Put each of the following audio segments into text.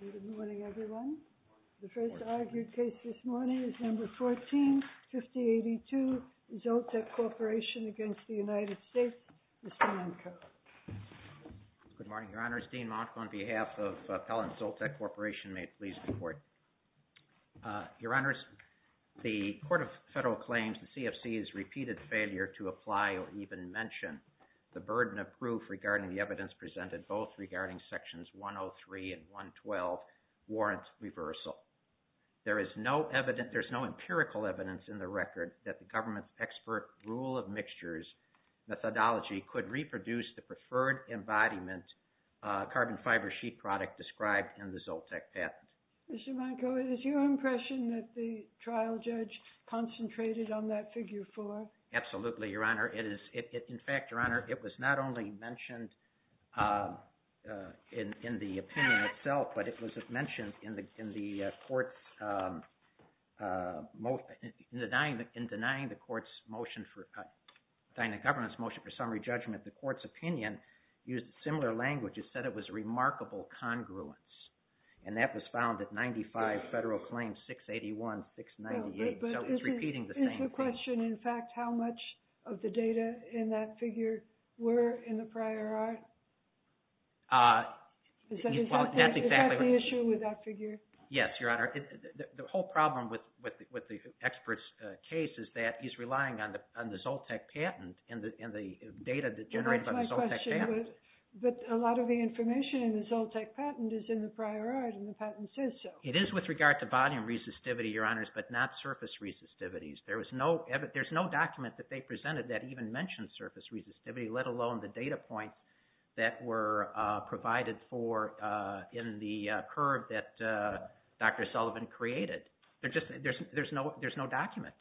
Good morning, everyone. The first argued case this morning is No. 14-5082, Zoltek Corp. v. United States. Mr. Manko. Good morning, Your Honors. Dean Manko on behalf of Pellin Zoltek Corp. may it please the Court. Your Honors, the Court of Federal Claims, the CFC, has repeated failure to apply or even mention the burden of proof regarding the evidence presented both regarding Sections 103 and 112 warrants reversal. There is no empirical evidence in the record that the government's expert rule of mixtures methodology could reproduce the preferred embodiment carbon fiber sheet product described in the Zoltek patent. Mr. Manko, it is your impression that the trial judge concentrated on that Figure 4? Absolutely, Your Honor. In fact, Your Honor, it was not only mentioned in the opinion itself, but it was mentioned in denying the government's motion for summary judgment. The Court's opinion used similar language. It said it was a remarkable congruence. And that was found at 95 Federal Claims 681-698. So it's repeating the same thing. Is the question, in fact, how much of the data in that figure were in the prior art? Is that the issue with that figure? Yes, Your Honor. The whole problem with the expert's case is that he's relying on the Zoltek patent and the data that generates on the Zoltek patent. But a lot of the information in the Zoltek patent is in the prior art and the patent says so. It is with regard to volume resistivity, Your Honors, but not surface resistivities. There's no document that they presented that even mentioned surface resistivity, let alone the data points that were provided for in the curve that Dr. Sullivan created. There's no document.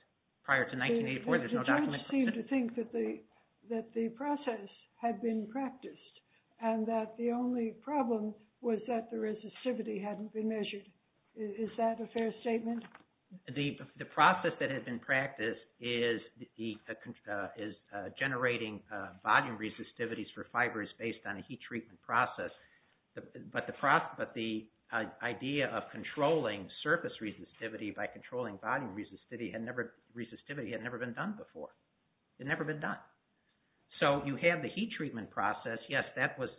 Prior to 1984, there's no document. The judge seemed to think that the process had been practiced and that the only problem was that the resistivity hadn't been measured. Is that a fair statement? The process that had been practiced is generating volume resistivities for fibers based on a heat treatment process. But the idea of controlling surface resistivity by controlling volume resistivity had never been done before. It had never been done. So you have the heat treatment process. Yes, that was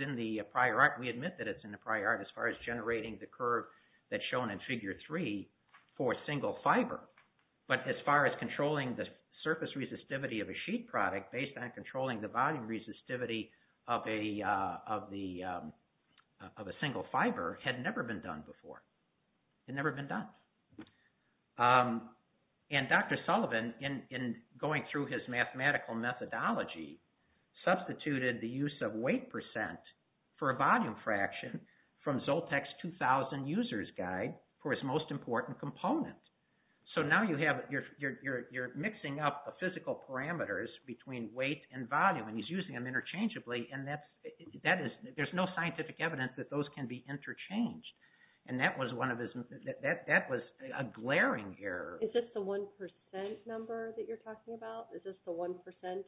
in the prior art. We admit that it's in the prior art as far as generating the curve that's shown in Figure 3 for a single fiber. But as far as controlling the surface resistivity of a sheet product based on controlling the volume resistivity of a single fiber had never been done before. It had never been done. And Dr. Sullivan, in going through his mathematical methodology, substituted the use of weight percent for a volume fraction from Zoltec's 2000 User's Guide for his most important component. So now you're mixing up the physical parameters between weight and volume and he's using them interchangeably and there's no scientific evidence that those can be interchanged. And that was a glaring error. Is this the 1% number that you're talking about? Is this the 1%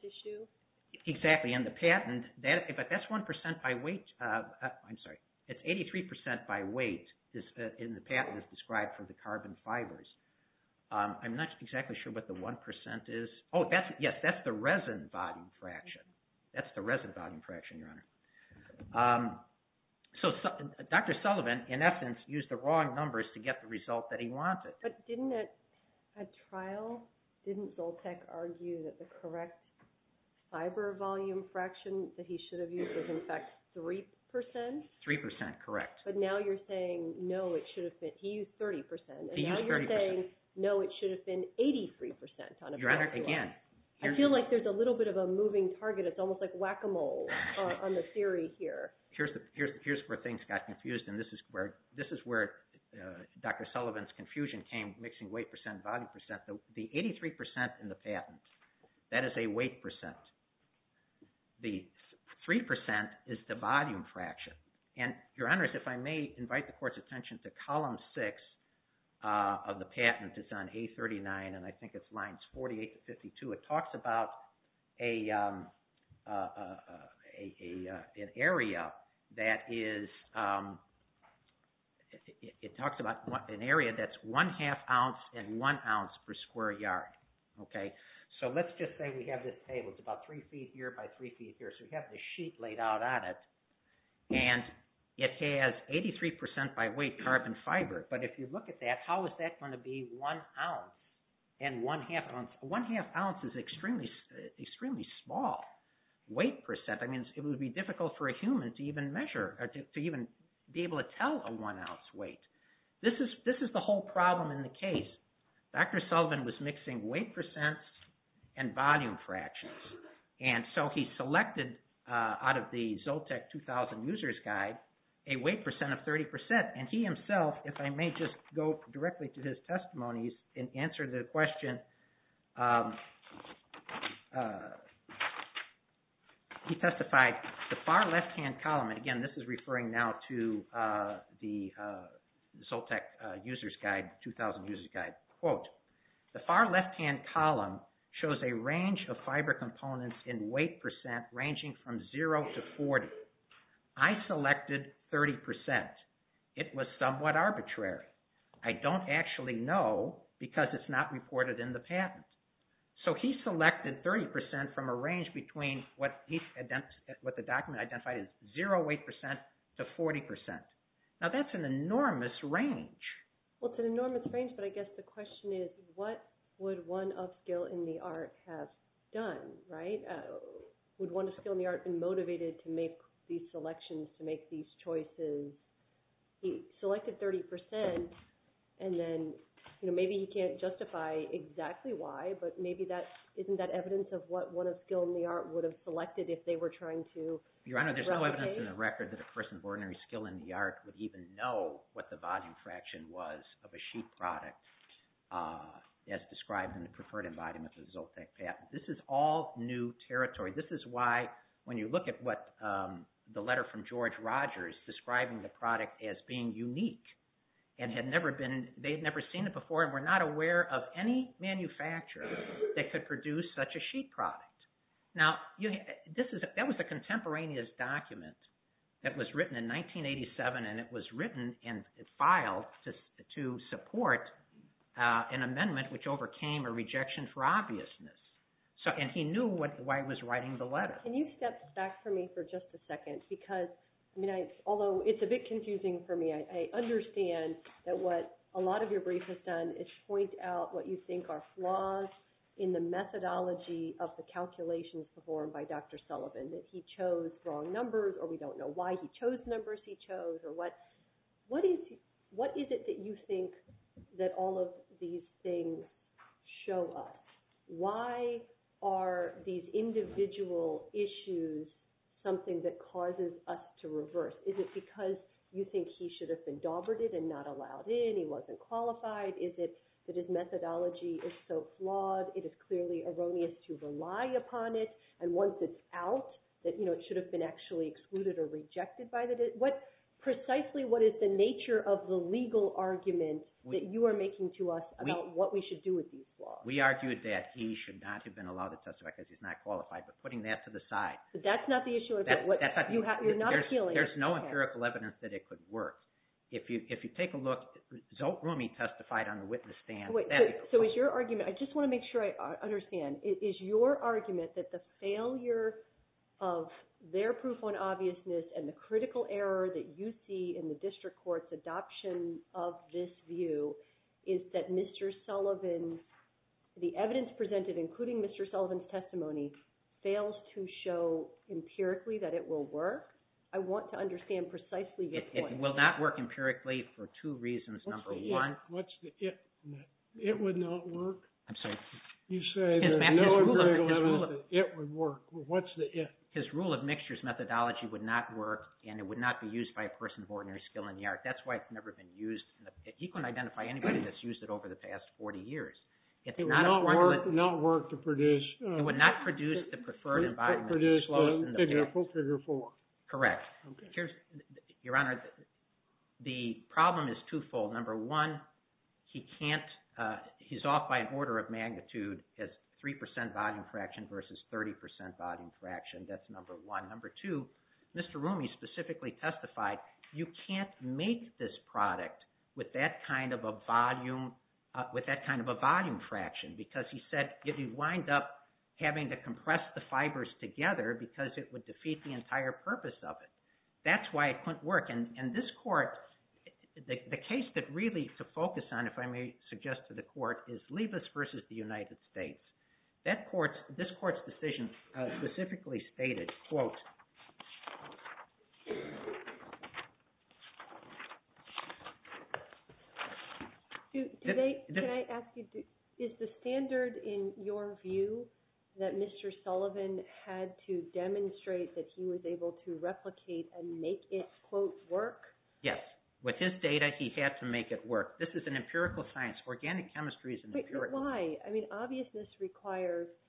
issue? Exactly. In the patent, that's 1% by weight. I'm sorry, it's 83% by weight in the patent as described for the carbon fibers. I'm not exactly sure what the 1% is. Oh, yes, that's the resin volume fraction. That's the resin volume fraction, Your Honor. So Dr. Sullivan, in essence, used the wrong numbers to get the result that he wanted. But didn't at trial, didn't Zoltec argue that the correct fiber volume fraction that he should have used was in fact 3%? 3%, correct. But now you're saying, no, it should have been, he used 30%. He used 30%. And now you're saying, no, it should have been 83% on a pencil. Your Honor, again. I feel like there's a little bit of a moving target. It's almost like whack-a-mole on the theory here. Here's where things got confused, and this is where Dr. Sullivan's confusion came, mixing weight percent and volume percent. The 83% in the patent, that is a weight percent. The 3% is the volume fraction. And, Your Honor, if I may invite the Court's attention to Column 6 of the patent. It's on A39, and I think it's lines 48 to 52. It talks about an area that's one-half ounce and one ounce per square yard. So let's just say we have this table. It's about three feet here by three feet here. So we have this sheet laid out on it, and it has 83% by weight carbon fiber. But if you look at that, how is that going to be one ounce and one half ounce? One half ounce is extremely small weight percent. I mean, it would be difficult for a human to even measure, to even be able to tell a one ounce weight. This is the whole problem in the case. Dr. Sullivan was mixing weight percent and volume fractions. And so he selected out of the Zoltec 2000 User's Guide a weight percent of 30%. And he himself, if I may just go directly to his testimonies and answer the question, he testified, the far left-hand column, and again, this is referring now to the Zoltec 2000 User's Guide. Quote, the far left-hand column shows a range of fiber components in weight percent ranging from zero to 40. I selected 30%. It was somewhat arbitrary. I don't actually know because it's not reported in the patent. So he selected 30% from a range between what the document identified as zero weight percent to 40%. Now, that's an enormous range. Well, it's an enormous range, but I guess the question is, what would one of skill in the art have done, right? Would one of skill in the art have been motivated to make these selections, to make these choices? He selected 30%, and then maybe he can't justify exactly why, but maybe that isn't that evidence of what one of skill in the art would have selected if they were trying to relocate? Your Honor, there's no evidence in the record that a person of ordinary skill in the art would even know what the volume fraction was of a sheet product as described in the preferred embodiment of the Zoltec patent. This is all new territory. This is why when you look at what the letter from George Rogers describing the product as being unique, and they had never seen it before and were not aware of any manufacturer that could produce such a sheet product. Now, that was a contemporaneous document that was written in 1987, and it was written and filed to support an amendment which overcame a rejection for obviousness, and he knew why he was writing the letter. Can you step back for me for just a second? Because, I mean, although it's a bit confusing for me, I understand that what a lot of your brief has done is point out what you think are flaws in the methodology of the calculations performed by Dr. Sullivan, that he chose wrong numbers or we don't know why he chose numbers he chose or what is it that you think that all of these things show us? Why are these individual issues something that causes us to reverse? Is it because you think he should have been doberted and not allowed in, he wasn't qualified? Is it that his methodology is so flawed it is clearly erroneous to rely upon it? And once it's out, it should have been actually excluded or rejected by the – precisely what is the nature of the legal argument that you are making to us about what we should do with these flaws? We argued that he should not have been allowed to testify because he's not qualified, but putting that to the side. But that's not the issue. You're not appealing. There's no empirical evidence that it could work. If you take a look, Zolt Rumi testified on the witness stand. So is your argument – I just want to make sure I understand. Is your argument that the failure of their proof on obviousness and the critical error that you see in the district court's adoption of this view is that Mr. Sullivan, the evidence presented, including Mr. Sullivan's testimony, fails to show empirically that it will work? I want to understand precisely this point. It will not work empirically for two reasons. Number one – What's the if? It would not work? I'm sorry? You say there's no empirical evidence that it would work. What's the if? His rule of mixtures methodology would not work and it would not be used by a person of ordinary skill in the art. That's why it's never been used. He couldn't identify anybody that's used it over the past 40 years. It would not work to produce – It would not produce the preferred environment. It would produce the figure four. Correct. Your Honor, the problem is twofold. Number one, he can't – he's off by an order of magnitude as 3% volume fraction versus 30% volume fraction. That's number one. Number two, Mr. Rumi specifically testified you can't make this product with that kind of a volume – with that kind of a volume fraction because he said you'd wind up having to compress the fibers together because it would defeat the entire purpose of it. That's why it couldn't work. And this Court – the case that really to focus on, if I may suggest to the Court, is Liebes versus the United States. This Court's decision specifically stated, quote, Do they – can I ask you, is the standard in your view that Mr. Sullivan had to demonstrate that he was able to replicate and make it, quote, work? Yes. With his data, he had to make it work. This is an empirical science. Organic chemistry is an empirical – But why? I mean, obviousness requires –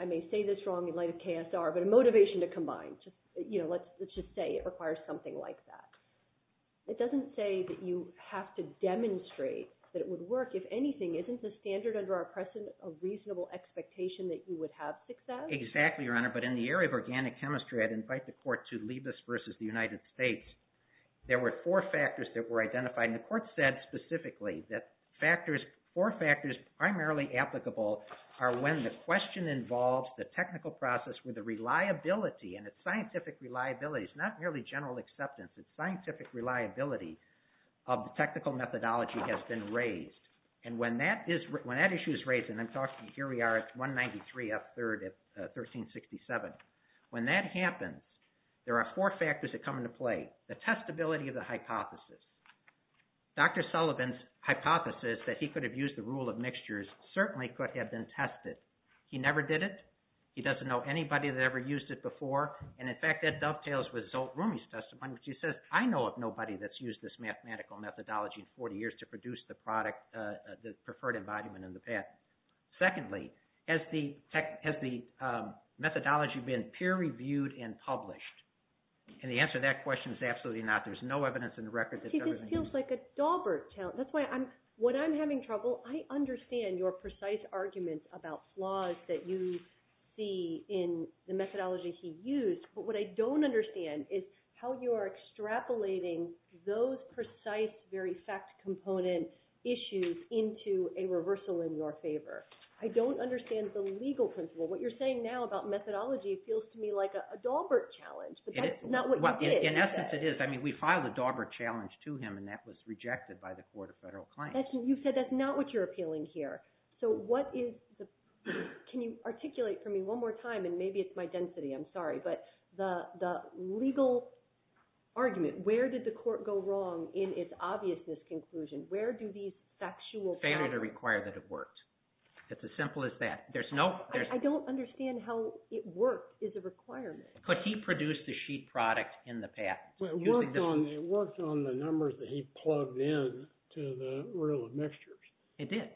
I may say this wrong in light of KSR, but a motivation to combine. You know, let's just say it requires something like that. It doesn't say that you have to demonstrate that it would work. If anything, isn't the standard under our precedent a reasonable expectation that you would have success? Exactly, Your Honor. But in the area of organic chemistry, I'd invite the Court to Liebes versus the United States. There were four factors that were identified, and the Court said specifically that factors – four factors primarily applicable are when the question involves the technical process with the reliability, and it's scientific reliability. It's not merely general acceptance. It's scientific reliability of the technical methodology has been raised. And when that issue is raised – and I'm talking – here we are at 193 up third at 1367. When that happens, there are four factors that come into play. The testability of the hypothesis. Dr. Sullivan's hypothesis that he could have used the rule of mixtures certainly could have been tested. He never did it. He doesn't know anybody that ever used it before. And, in fact, that dovetails with Zolt Rumi's testimony, which he says, I know of nobody that's used this mathematical methodology in 40 years to produce the product – the preferred embodiment in the past. Secondly, has the methodology been peer-reviewed and published? And the answer to that question is absolutely not. There's no evidence in the record that – See, this feels like a Daubert challenge. That's why I'm – when I'm having trouble, I understand your precise argument about flaws that you see in the methodology he used. But what I don't understand is how you are extrapolating those precise, very fact-component issues into a reversal in your favor. I don't understand the legal principle. What you're saying now about methodology feels to me like a Daubert challenge. But that's not what you did. In essence, it is. I mean, we filed a Daubert challenge to him, and that was rejected by the Court of Federal Claims. You said that's not what you're appealing here. So what is the – can you articulate for me one more time, and maybe it's my density, I'm sorry, but the legal argument. Where did the Court go wrong in its obvious misconclusion? Where do these factual problems – Failure to require that it worked. It's as simple as that. There's no – I don't understand how it worked as a requirement. But he produced the sheet product in the past. It worked on the numbers that he plugged in to the rule of mixtures. It did.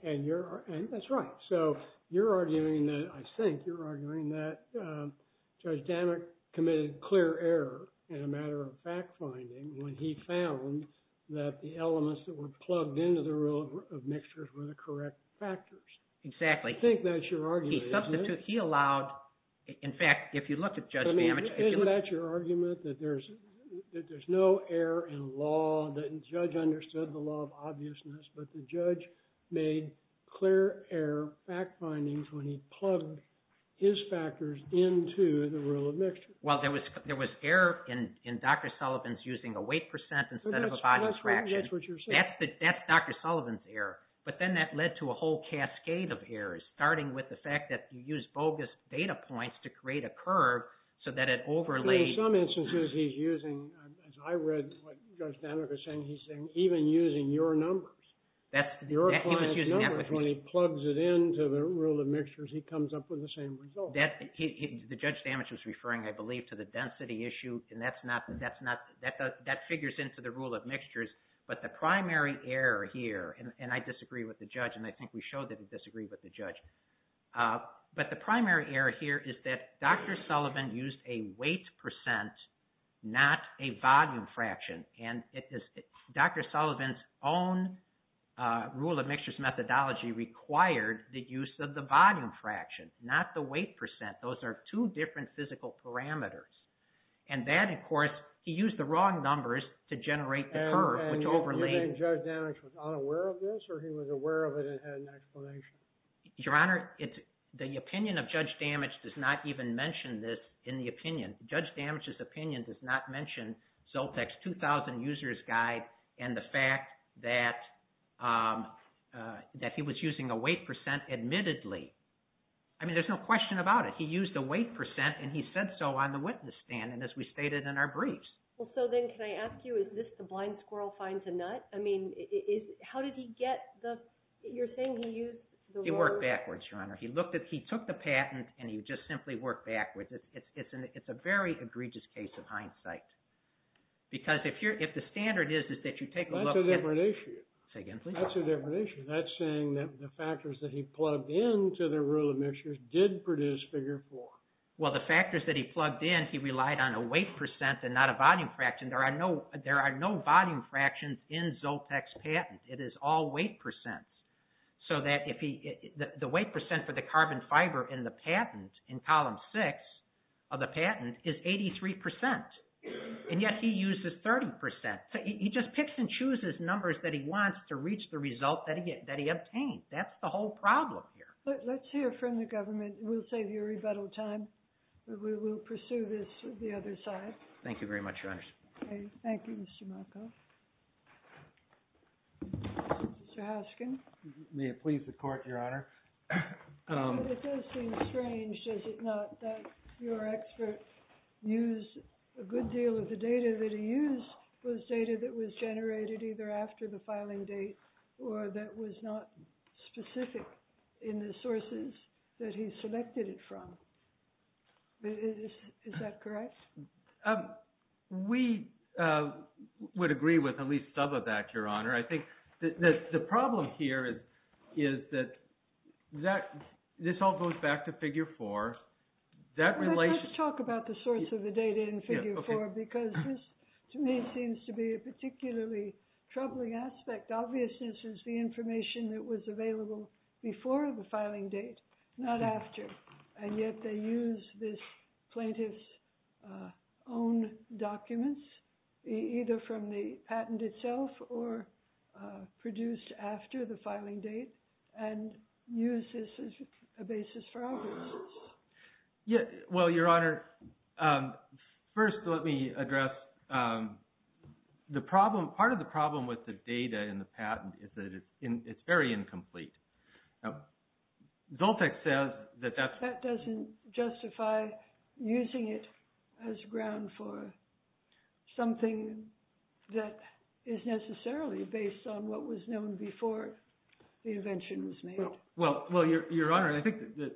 That's right. So you're arguing that – I think you're arguing that Judge Dammock committed clear error in a matter of fact-finding when he found that the elements that were plugged into the rule of mixtures were the correct factors. Exactly. I think that's your argument. He substituted – he allowed – in fact, if you look at Judge Dammock – that there's no error in law. The judge understood the law of obviousness, but the judge made clear error fact-findings when he plugged his factors into the rule of mixtures. Well, there was error in Dr. Sullivan's using a weight percent instead of a body fraction. That's what you're saying. That's Dr. Sullivan's error. But then that led to a whole cascade of errors, starting with the fact that he used bogus data points to create a curve so that it overlaid – In some instances, he's using – as I read what Judge Dammock was saying, he's saying even using your numbers, your client's numbers, when he plugs it into the rule of mixtures, he comes up with the same result. The Judge Dammock was referring, I believe, to the density issue, and that's not – that figures into the rule of mixtures. But the primary error here – and I disagree with the judge, and I think we showed that he disagreed with the judge. But the primary error here is that Dr. Sullivan used a weight percent, not a volume fraction. And Dr. Sullivan's own rule of mixtures methodology required the use of the volume fraction, not the weight percent. Those are two different physical parameters. And that, of course, he used the wrong numbers to generate the curve, which overlaid – And you think Judge Dammock was unaware of this, or he was aware of it and had an explanation? Your Honor, the opinion of Judge Dammock does not even mention this in the opinion. Judge Dammock's opinion does not mention Zoltec's 2,000 users guide and the fact that he was using a weight percent admittedly. I mean, there's no question about it. He used a weight percent, and he said so on the witness stand, and as we stated in our briefs. Well, so then can I ask you, is this the blind squirrel finds a nut? I mean, how did he get the – you're saying he used the word? He worked backwards, Your Honor. He looked at – he took the patent, and he just simply worked backwards. It's a very egregious case of hindsight. Because if the standard is that you take a look at – That's a different issue. Say again, please. That's a different issue. That's saying that the factors that he plugged into the rule of mixtures did produce Figure 4. Well, the factors that he plugged in, he relied on a weight percent and not a volume fraction. There are no volume fractions in Zoltec's patent. It is all weight percents. So that if he – the weight percent for the carbon fiber in the patent, in Column 6 of the patent, is 83 percent. And yet he uses 30 percent. He just picks and chooses numbers that he wants to reach the result that he obtained. That's the whole problem here. Let's hear from the government. We'll save you rebuttal time. We will pursue this with the other side. Thank you very much, Your Honors. Okay. Thank you, Mr. Markoff. Mr. Hoskin. May it please the Court, Your Honor. It does seem strange, does it not, that your expert used a good deal of the data that he used was data that was generated either after the filing date or that was not specific in the sources that he selected it from. Is that correct? We would agree with at least some of that, Your Honor. I think the problem here is that this all goes back to Figure 4. Let's talk about the source of the data in Figure 4 because this, to me, seems to be a particularly troubling aspect. Obviousness is the information that was available before the filing date, not after, and yet they use this plaintiff's own documents either from the patent itself or produced after the filing date and use this as a basis for obviousness. Well, Your Honor, first let me address the problem. Part of the problem with the data in the patent is that it's very incomplete. Zoltek says that that's... That doesn't justify using it as ground for something that is necessarily based on what was known before the invention was made. Well, Your Honor, I think that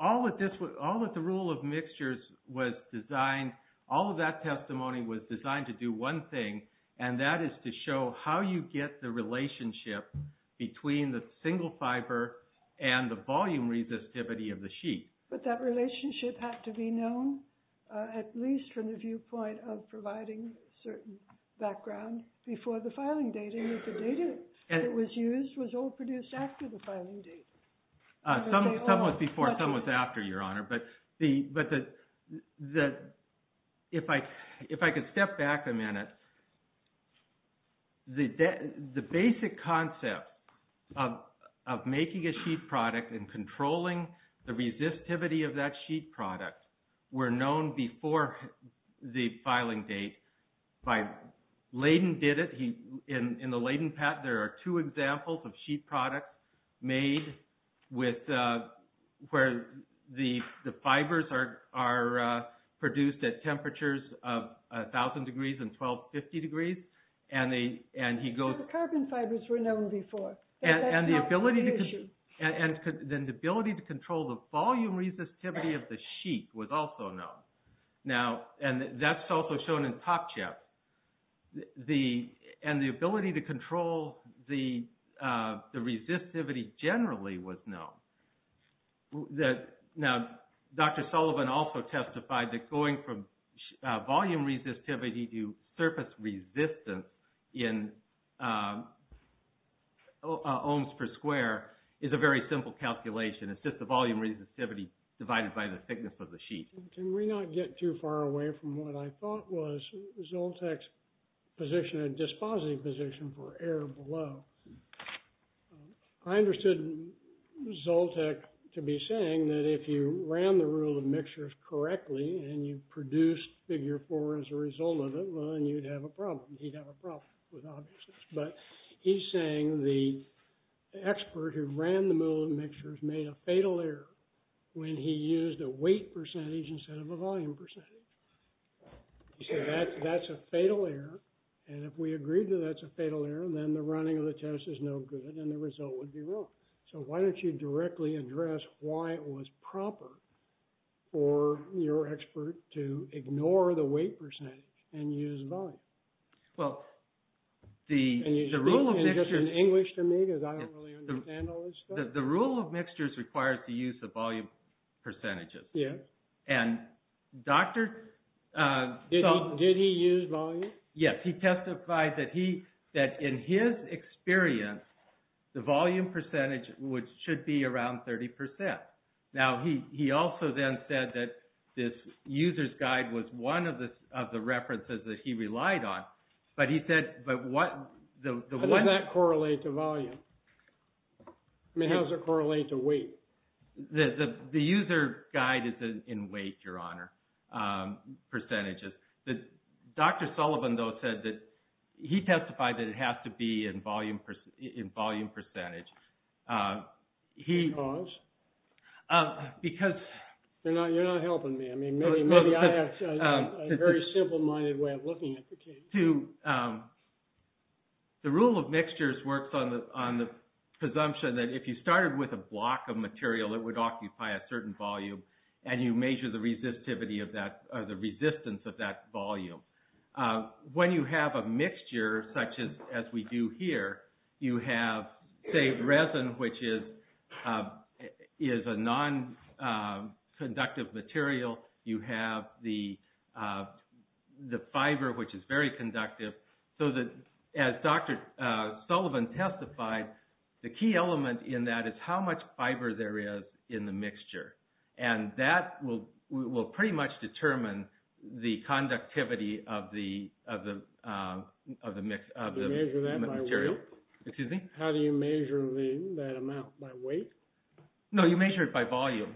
all that the rule of mixtures was designed, all of that testimony was designed to do one thing, and that is to show how you get the relationship between the single fiber and the volume resistivity of the sheet. But that relationship had to be known at least from the viewpoint of providing certain background before the filing date and that the data that was used was all produced after the filing date. Some was before, some was after, Your Honor. But if I could step back a minute, the basic concept of making a sheet product and controlling the resistivity of that sheet product were known before the filing date. Leighton did it. In the Leighton patent, there are two examples of sheet products made where the fibers are produced at temperatures of 1,000 degrees and 1,250 degrees, and he goes... The carbon fibers were known before. And the ability to control the volume resistivity of the sheet was also known. Now, and that's also shown in Top Chap. And the ability to control the resistivity generally was known. Now, Dr. Sullivan also testified that going from volume resistivity to surface resistance in ohms per square is a very simple calculation. It's just the volume resistivity divided by the thickness of the sheet. Can we not get too far away from what I thought was Zoltec's position, a dispositive position for air below? I understood Zoltec to be saying that if you ran the rule of mixtures correctly and you produced figure four as a result of it, well, then you'd have a problem. He'd have a problem with objects. But he's saying the expert who ran the rule of mixtures made a fatal error when he used a weight percentage instead of a volume percentage. He said that's a fatal error, and if we agree that that's a fatal error, then the running of the test is no good and the result would be wrong. So why don't you directly address why it was proper for your expert to ignore the weight percentage and use volume? Well, the rule of mixtures requires the use of volume percentages. Yes. And Dr. Sullivan... Did he use volume? Yes. He testified that in his experience, the volume percentage should be around 30%. Now, he also then said that this user's guide was one of the references that he relied on, but he said, but what... How does that correlate to volume? I mean, how does it correlate to weight? The user guide is in weight, Your Honor, percentages. Dr. Sullivan, though, said that he testified that it has to be in volume percentage. Because? Because... You're not helping me. I mean, maybe I have a very simple-minded way of looking at the case. The rule of mixtures works on the presumption that if you started with a block of material, it would occupy a certain volume, and you measure the resistivity of that, or the resistance of that volume. When you have a mixture, such as we do here, you have, say, resin, which is a non-conductive material. You have the fiber, which is very conductive. So, as Dr. Sullivan testified, the key element in that is how much fiber there is in the mixture. And that will pretty much determine the conductivity of the material. Do you measure that by weight? Excuse me? How do you measure that amount, by weight? No, you measure it by volume.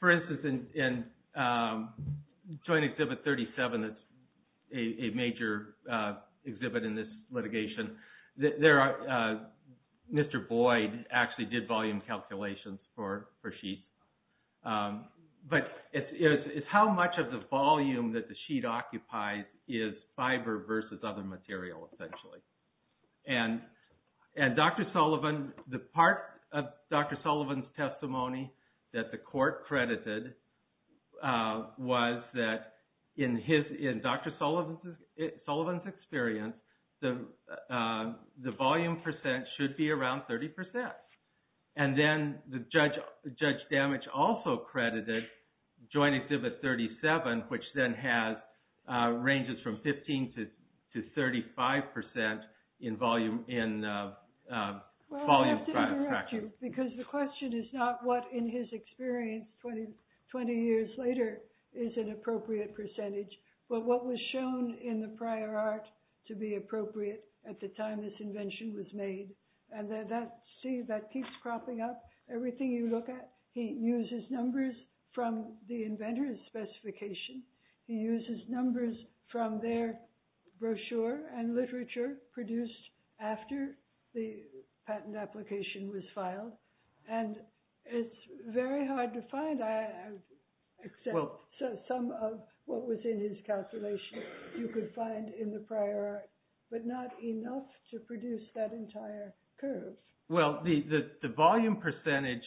For instance, in Joint Exhibit 37, a major exhibit in this litigation, Mr. Boyd actually did volume calculations for sheets. But it's how much of the volume that the sheet occupies is fiber versus other material, essentially. And Dr. Sullivan, the part of Dr. Sullivan's testimony that the court credited, was that in Dr. Sullivan's experience, the volume percent should be around 30%. And then, Judge Damage also credited Joint Exhibit 37, which then has ranges from 15% to 35% in volume fraction. Well, I have to interrupt you, because the question is not what, in his experience, 20 years later, is an appropriate percentage, but what was shown in the prior art to be appropriate at the time this invention was made. See, that keeps cropping up. Everything you look at, he uses numbers from the inventor's specification. He uses numbers from their brochure and literature produced after the patent application was filed. And it's very hard to find, except some of what was in his calculation, you could find in the prior art, but not enough to produce that entire curve. Well, the volume percentage,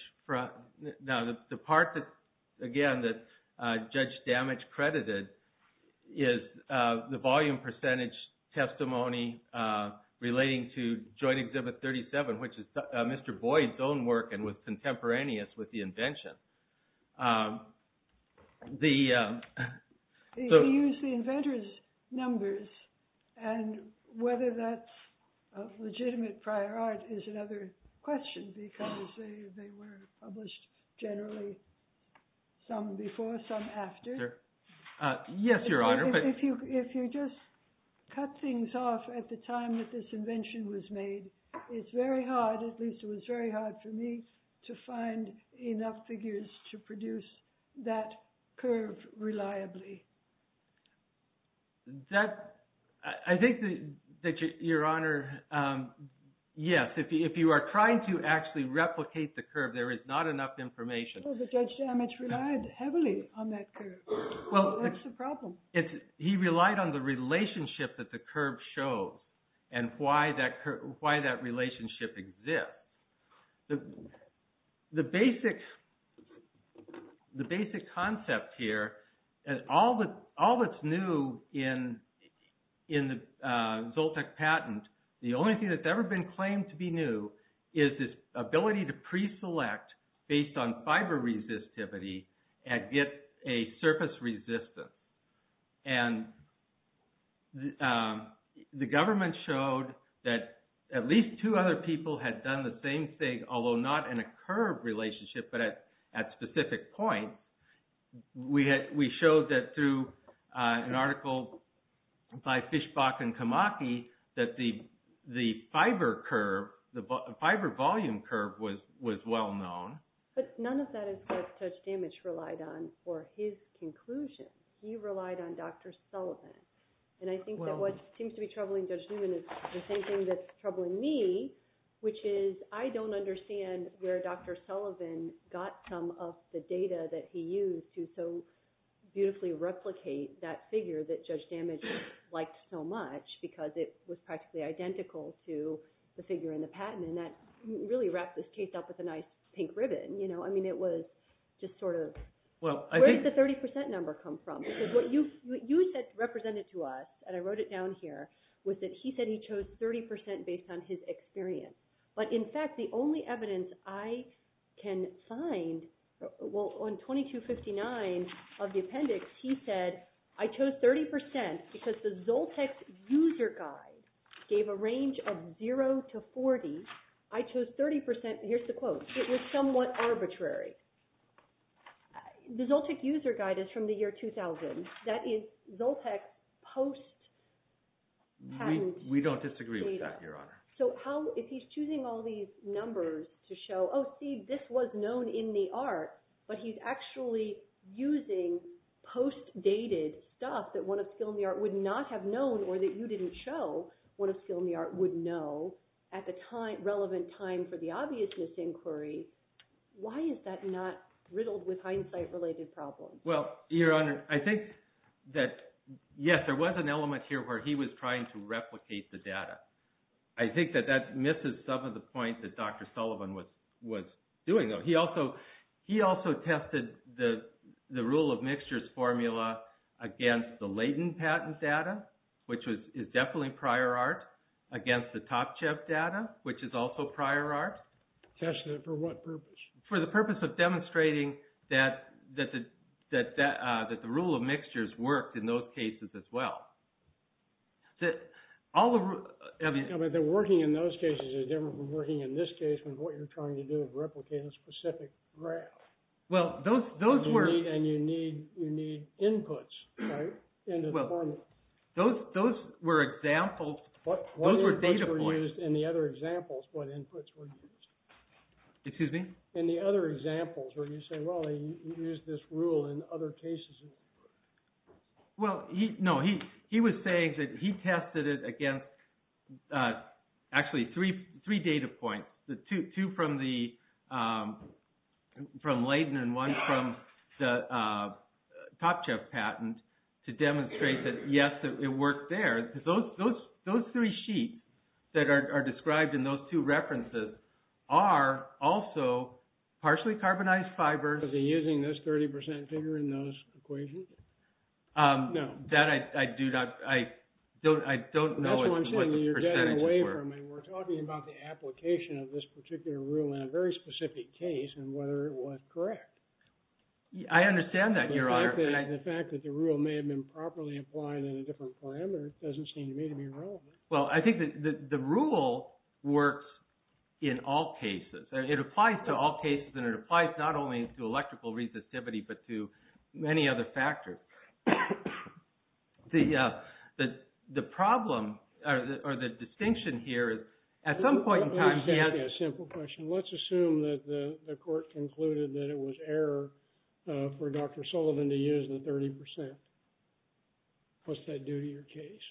now the part that, again, that Judge Damage credited, is the volume percentage testimony relating to Joint Exhibit 37, which is Mr. Boyd's own work and was contemporaneous with the invention. He used the inventor's numbers, and whether that's legitimate prior art is another question, because they were published generally some before, some after. Yes, Your Honor. If you just cut things off at the time that this invention was made, it's very hard, at least it was very hard for me, to find enough figures to produce that curve reliably. I think that, Your Honor, yes, if you are trying to actually replicate the curve, there is not enough information. Well, the Judge Damage relied heavily on that curve. That's the problem. He relied on the relationship that the curve shows and why that relationship exists. The basic concept here, and all that's new in the Zoltec patent, the only thing that's ever been claimed to be new is this ability to pre-select based on fiber resistivity and get a surface resistance. The government showed that at least two other people had done the same thing, although not in a curve relationship, but at specific points. We showed that through an article by Fischbach and Kamaki, that the fiber volume curve was well known. But none of that is what Judge Damage relied on for his conclusion. He relied on Dr. Sullivan. And I think that what seems to be troubling Judge Newman is the same thing that's troubling me, which is I don't understand where Dr. Sullivan got some of the data that he used to so beautifully replicate that figure that Judge Damage liked so much because it was practically identical to the figure in the patent. And that really wrapped this case up with a nice pink ribbon. I mean, it was just sort of, where did the 30% number come from? Because what you said represented to us, and I wrote it down here, was that he said he chose 30% based on his experience. But in fact, the only evidence I can find on 2259 of the appendix, he said, I chose 30% because the Zoltec user guide gave a range of 0 to 40. I chose 30% – here's the quote. It was somewhat arbitrary. The Zoltec user guide is from the year 2000. That is Zoltec post-patent data. We don't disagree with that, Your Honor. So if he's choosing all these numbers to show, oh, see, this was known in the art, but he's actually using post-dated stuff that one of skill in the art would not have known or that you didn't show one of skill in the art would know at the relevant time for the obviousness inquiry, why is that not riddled with hindsight-related problems? Well, Your Honor, I think that, yes, there was an element here where he was trying to replicate the data. I think that that misses some of the points that Dr. Sullivan was doing, though. He also tested the rule of mixtures formula against the Leighton patent data, which is definitely prior art, against the Topchev data, which is also prior art. Tested it for what purpose? For the purpose of demonstrating that the rule of mixtures worked in those cases as well. But working in those cases is different from working in this case when what you're trying to do is replicate a specific graph. And you need inputs into the formula. Those were examples. What inputs were used in the other examples? In the other examples where you say, well, he used this rule in other cases. Well, no, he was saying that he tested it against, actually, three data points. Two from Leighton and one from the Topchev patent to demonstrate that, yes, it worked there. Those three sheets that are described in those two references are also partially carbonized fibers. Was he using this 30% figure in those equations? No. That I do not, I don't know what the percentages were. That's what I'm saying. You're getting away from it. We're talking about the application of this particular rule in a very specific case and whether it was correct. I understand that, Your Honor. The fact that the rule may have been properly applied in a different parameter doesn't seem to me to be relevant. Well, I think that the rule works in all cases. It applies to all cases and it applies not only to electrical resistivity but to many other factors. The problem or the distinction here is at some point in time- Let me ask you a simple question. Let's assume that the court concluded that it was error for Dr. Sullivan to use the 30%. What's that do to your case?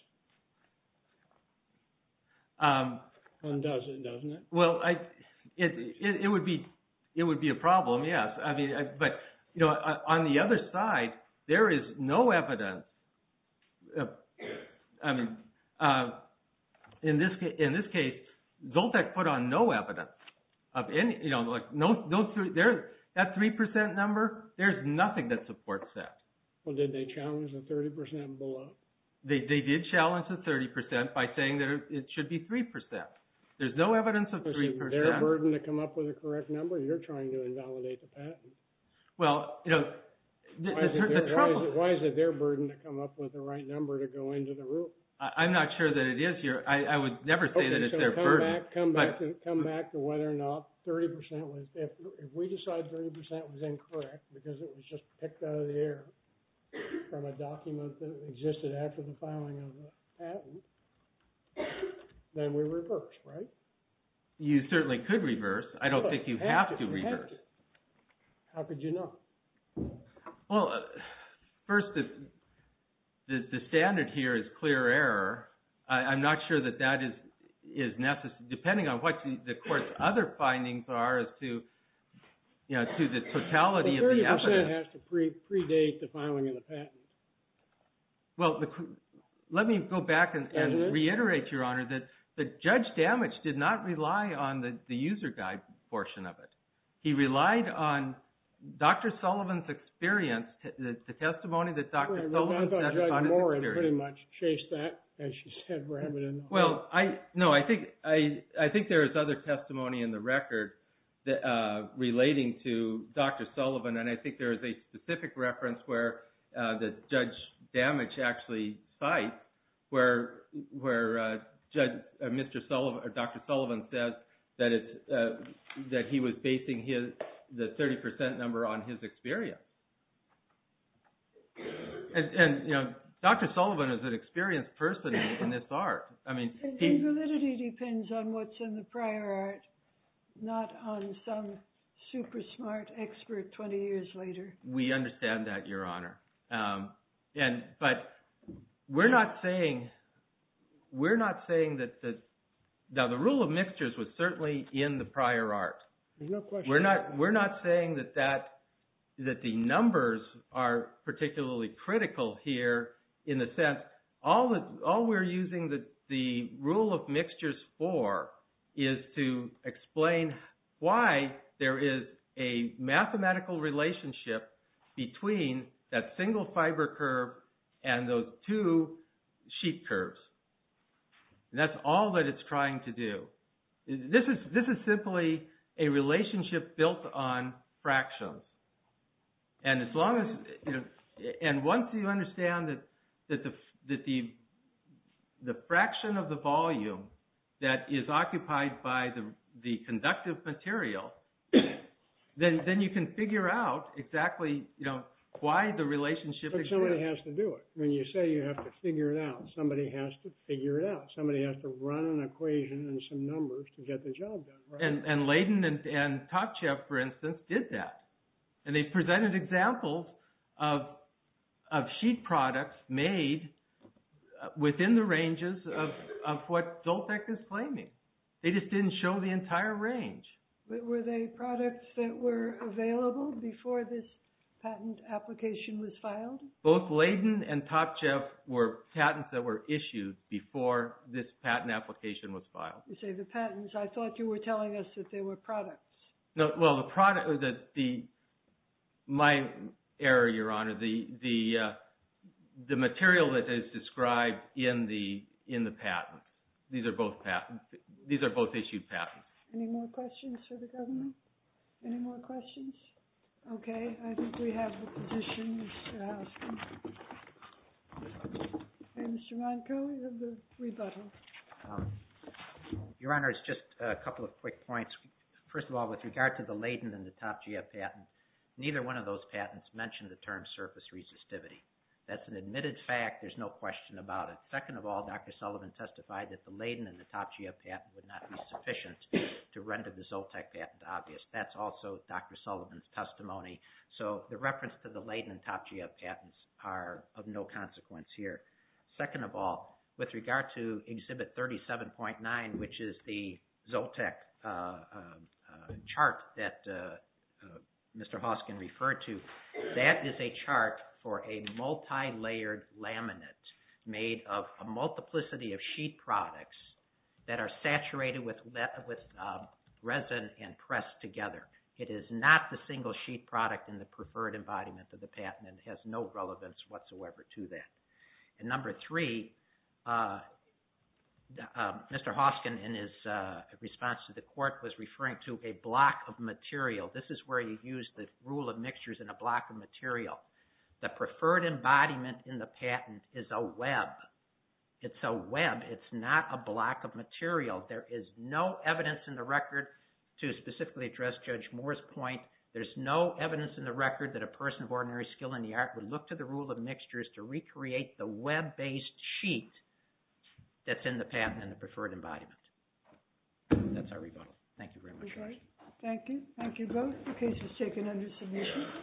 It undoes it, doesn't it? Well, it would be a problem, yes. But on the other side, there is no evidence. In this case, Zoltec put on no evidence. That 3% number, there's nothing that supports that. Well, did they challenge the 30% below? They did challenge the 30% by saying that it should be 3%. There's no evidence of 3%. Is it their burden to come up with a correct number? You're trying to invalidate the patent. Well, you know- Why is it their burden to come up with the right number to go into the rule? I'm not sure that it is here. I would never say that it's their burden. Come back to whether or not 30% was- If we decide 30% was incorrect because it was just picked out of the air from a document that existed after the filing of the patent, then we reverse, right? You certainly could reverse. I don't think you have to reverse. How could you know? Well, first, the standard here is clear error. I'm not sure that that is necessary. Depending on what the court's other findings are as to the totality of the evidence- Well, 30% has to predate the filing of the patent. Well, let me go back and reiterate, Your Honor, that Judge Damage did not rely on the user guide portion of it. He relied on Dr. Sullivan's experience, the testimony that Dr. Sullivan- Well, Judge Moore pretty much chased that, as you said. Well, no, I think there is other testimony in the record relating to Dr. Sullivan, and I think there is a specific reference where Judge Damage actually cites where Dr. Sullivan says that he was basing the 30% number on his experience. And Dr. Sullivan is an experienced person in this art. Validity depends on what's in the prior art, not on some super smart expert 20 years later. We understand that, Your Honor. But we're not saying that the rule of mixtures was certainly in the prior art. We're not saying that the numbers are particularly critical here in the sense- All we're using the rule of mixtures for is to explain why there is a mathematical relationship between that single fiber curve and those two sheet curves. And that's all that it's trying to do. This is simply a relationship built on fractions. And once you understand that the fraction of the volume that is occupied by the conductive material, then you can figure out exactly why the relationship exists. But somebody has to do it. When you say you have to figure it out, somebody has to figure it out. Somebody has to run an equation and some numbers to get the job done. And Layden and Topchev, for instance, did that. And they presented examples of sheet products made within the ranges of what DOLTEC is claiming. They just didn't show the entire range. But were they products that were available before this patent application was filed? Both Layden and Topchev were patents that were issued before this patent application was filed. You say the patents. I thought you were telling us that they were products. Well, the product was the- my error, Your Honor, the material that is described in the patent. These are both patents. These are both issued patents. Any more questions for the government? Any more questions? Okay. I think we have the petition, Mr. Hausman. And Mr. Monko, you have the rebuttal. Your Honor, it's just a couple of quick points. First of all, with regard to the Layden and the Topchev patent, neither one of those patents mentioned the term surface resistivity. That's an admitted fact. There's no question about it. Second of all, Dr. Sullivan testified that the Layden and the Topchev patent would not be sufficient to render the DOLTEC patent obvious. That's also Dr. Sullivan's testimony. So the reference to the Layden and Topchev patents are of no consequence here. Second of all, with regard to Exhibit 37.9, which is the DOLTEC chart that Mr. Hoskin referred to, that is a chart for a multilayered laminate made of a multiplicity of sheet products that are saturated with resin and pressed together. It is not the single sheet product in the preferred embodiment of the patent and has no relevance whatsoever to that. And number three, Mr. Hoskin in his response to the court was referring to a block of material. This is where you use the rule of mixtures in a block of material. The preferred embodiment in the patent is a web. It's a web. It's not a block of material. There is no evidence in the record to specifically address Judge Moore's point. There's no evidence in the record that a person of ordinary skill in the art would look to the rule of mixtures to recreate the web-based sheet that's in the patent and the preferred embodiment. That's our rebuttal. Thank you very much. Thank you. Thank you both. The case is taken under submission.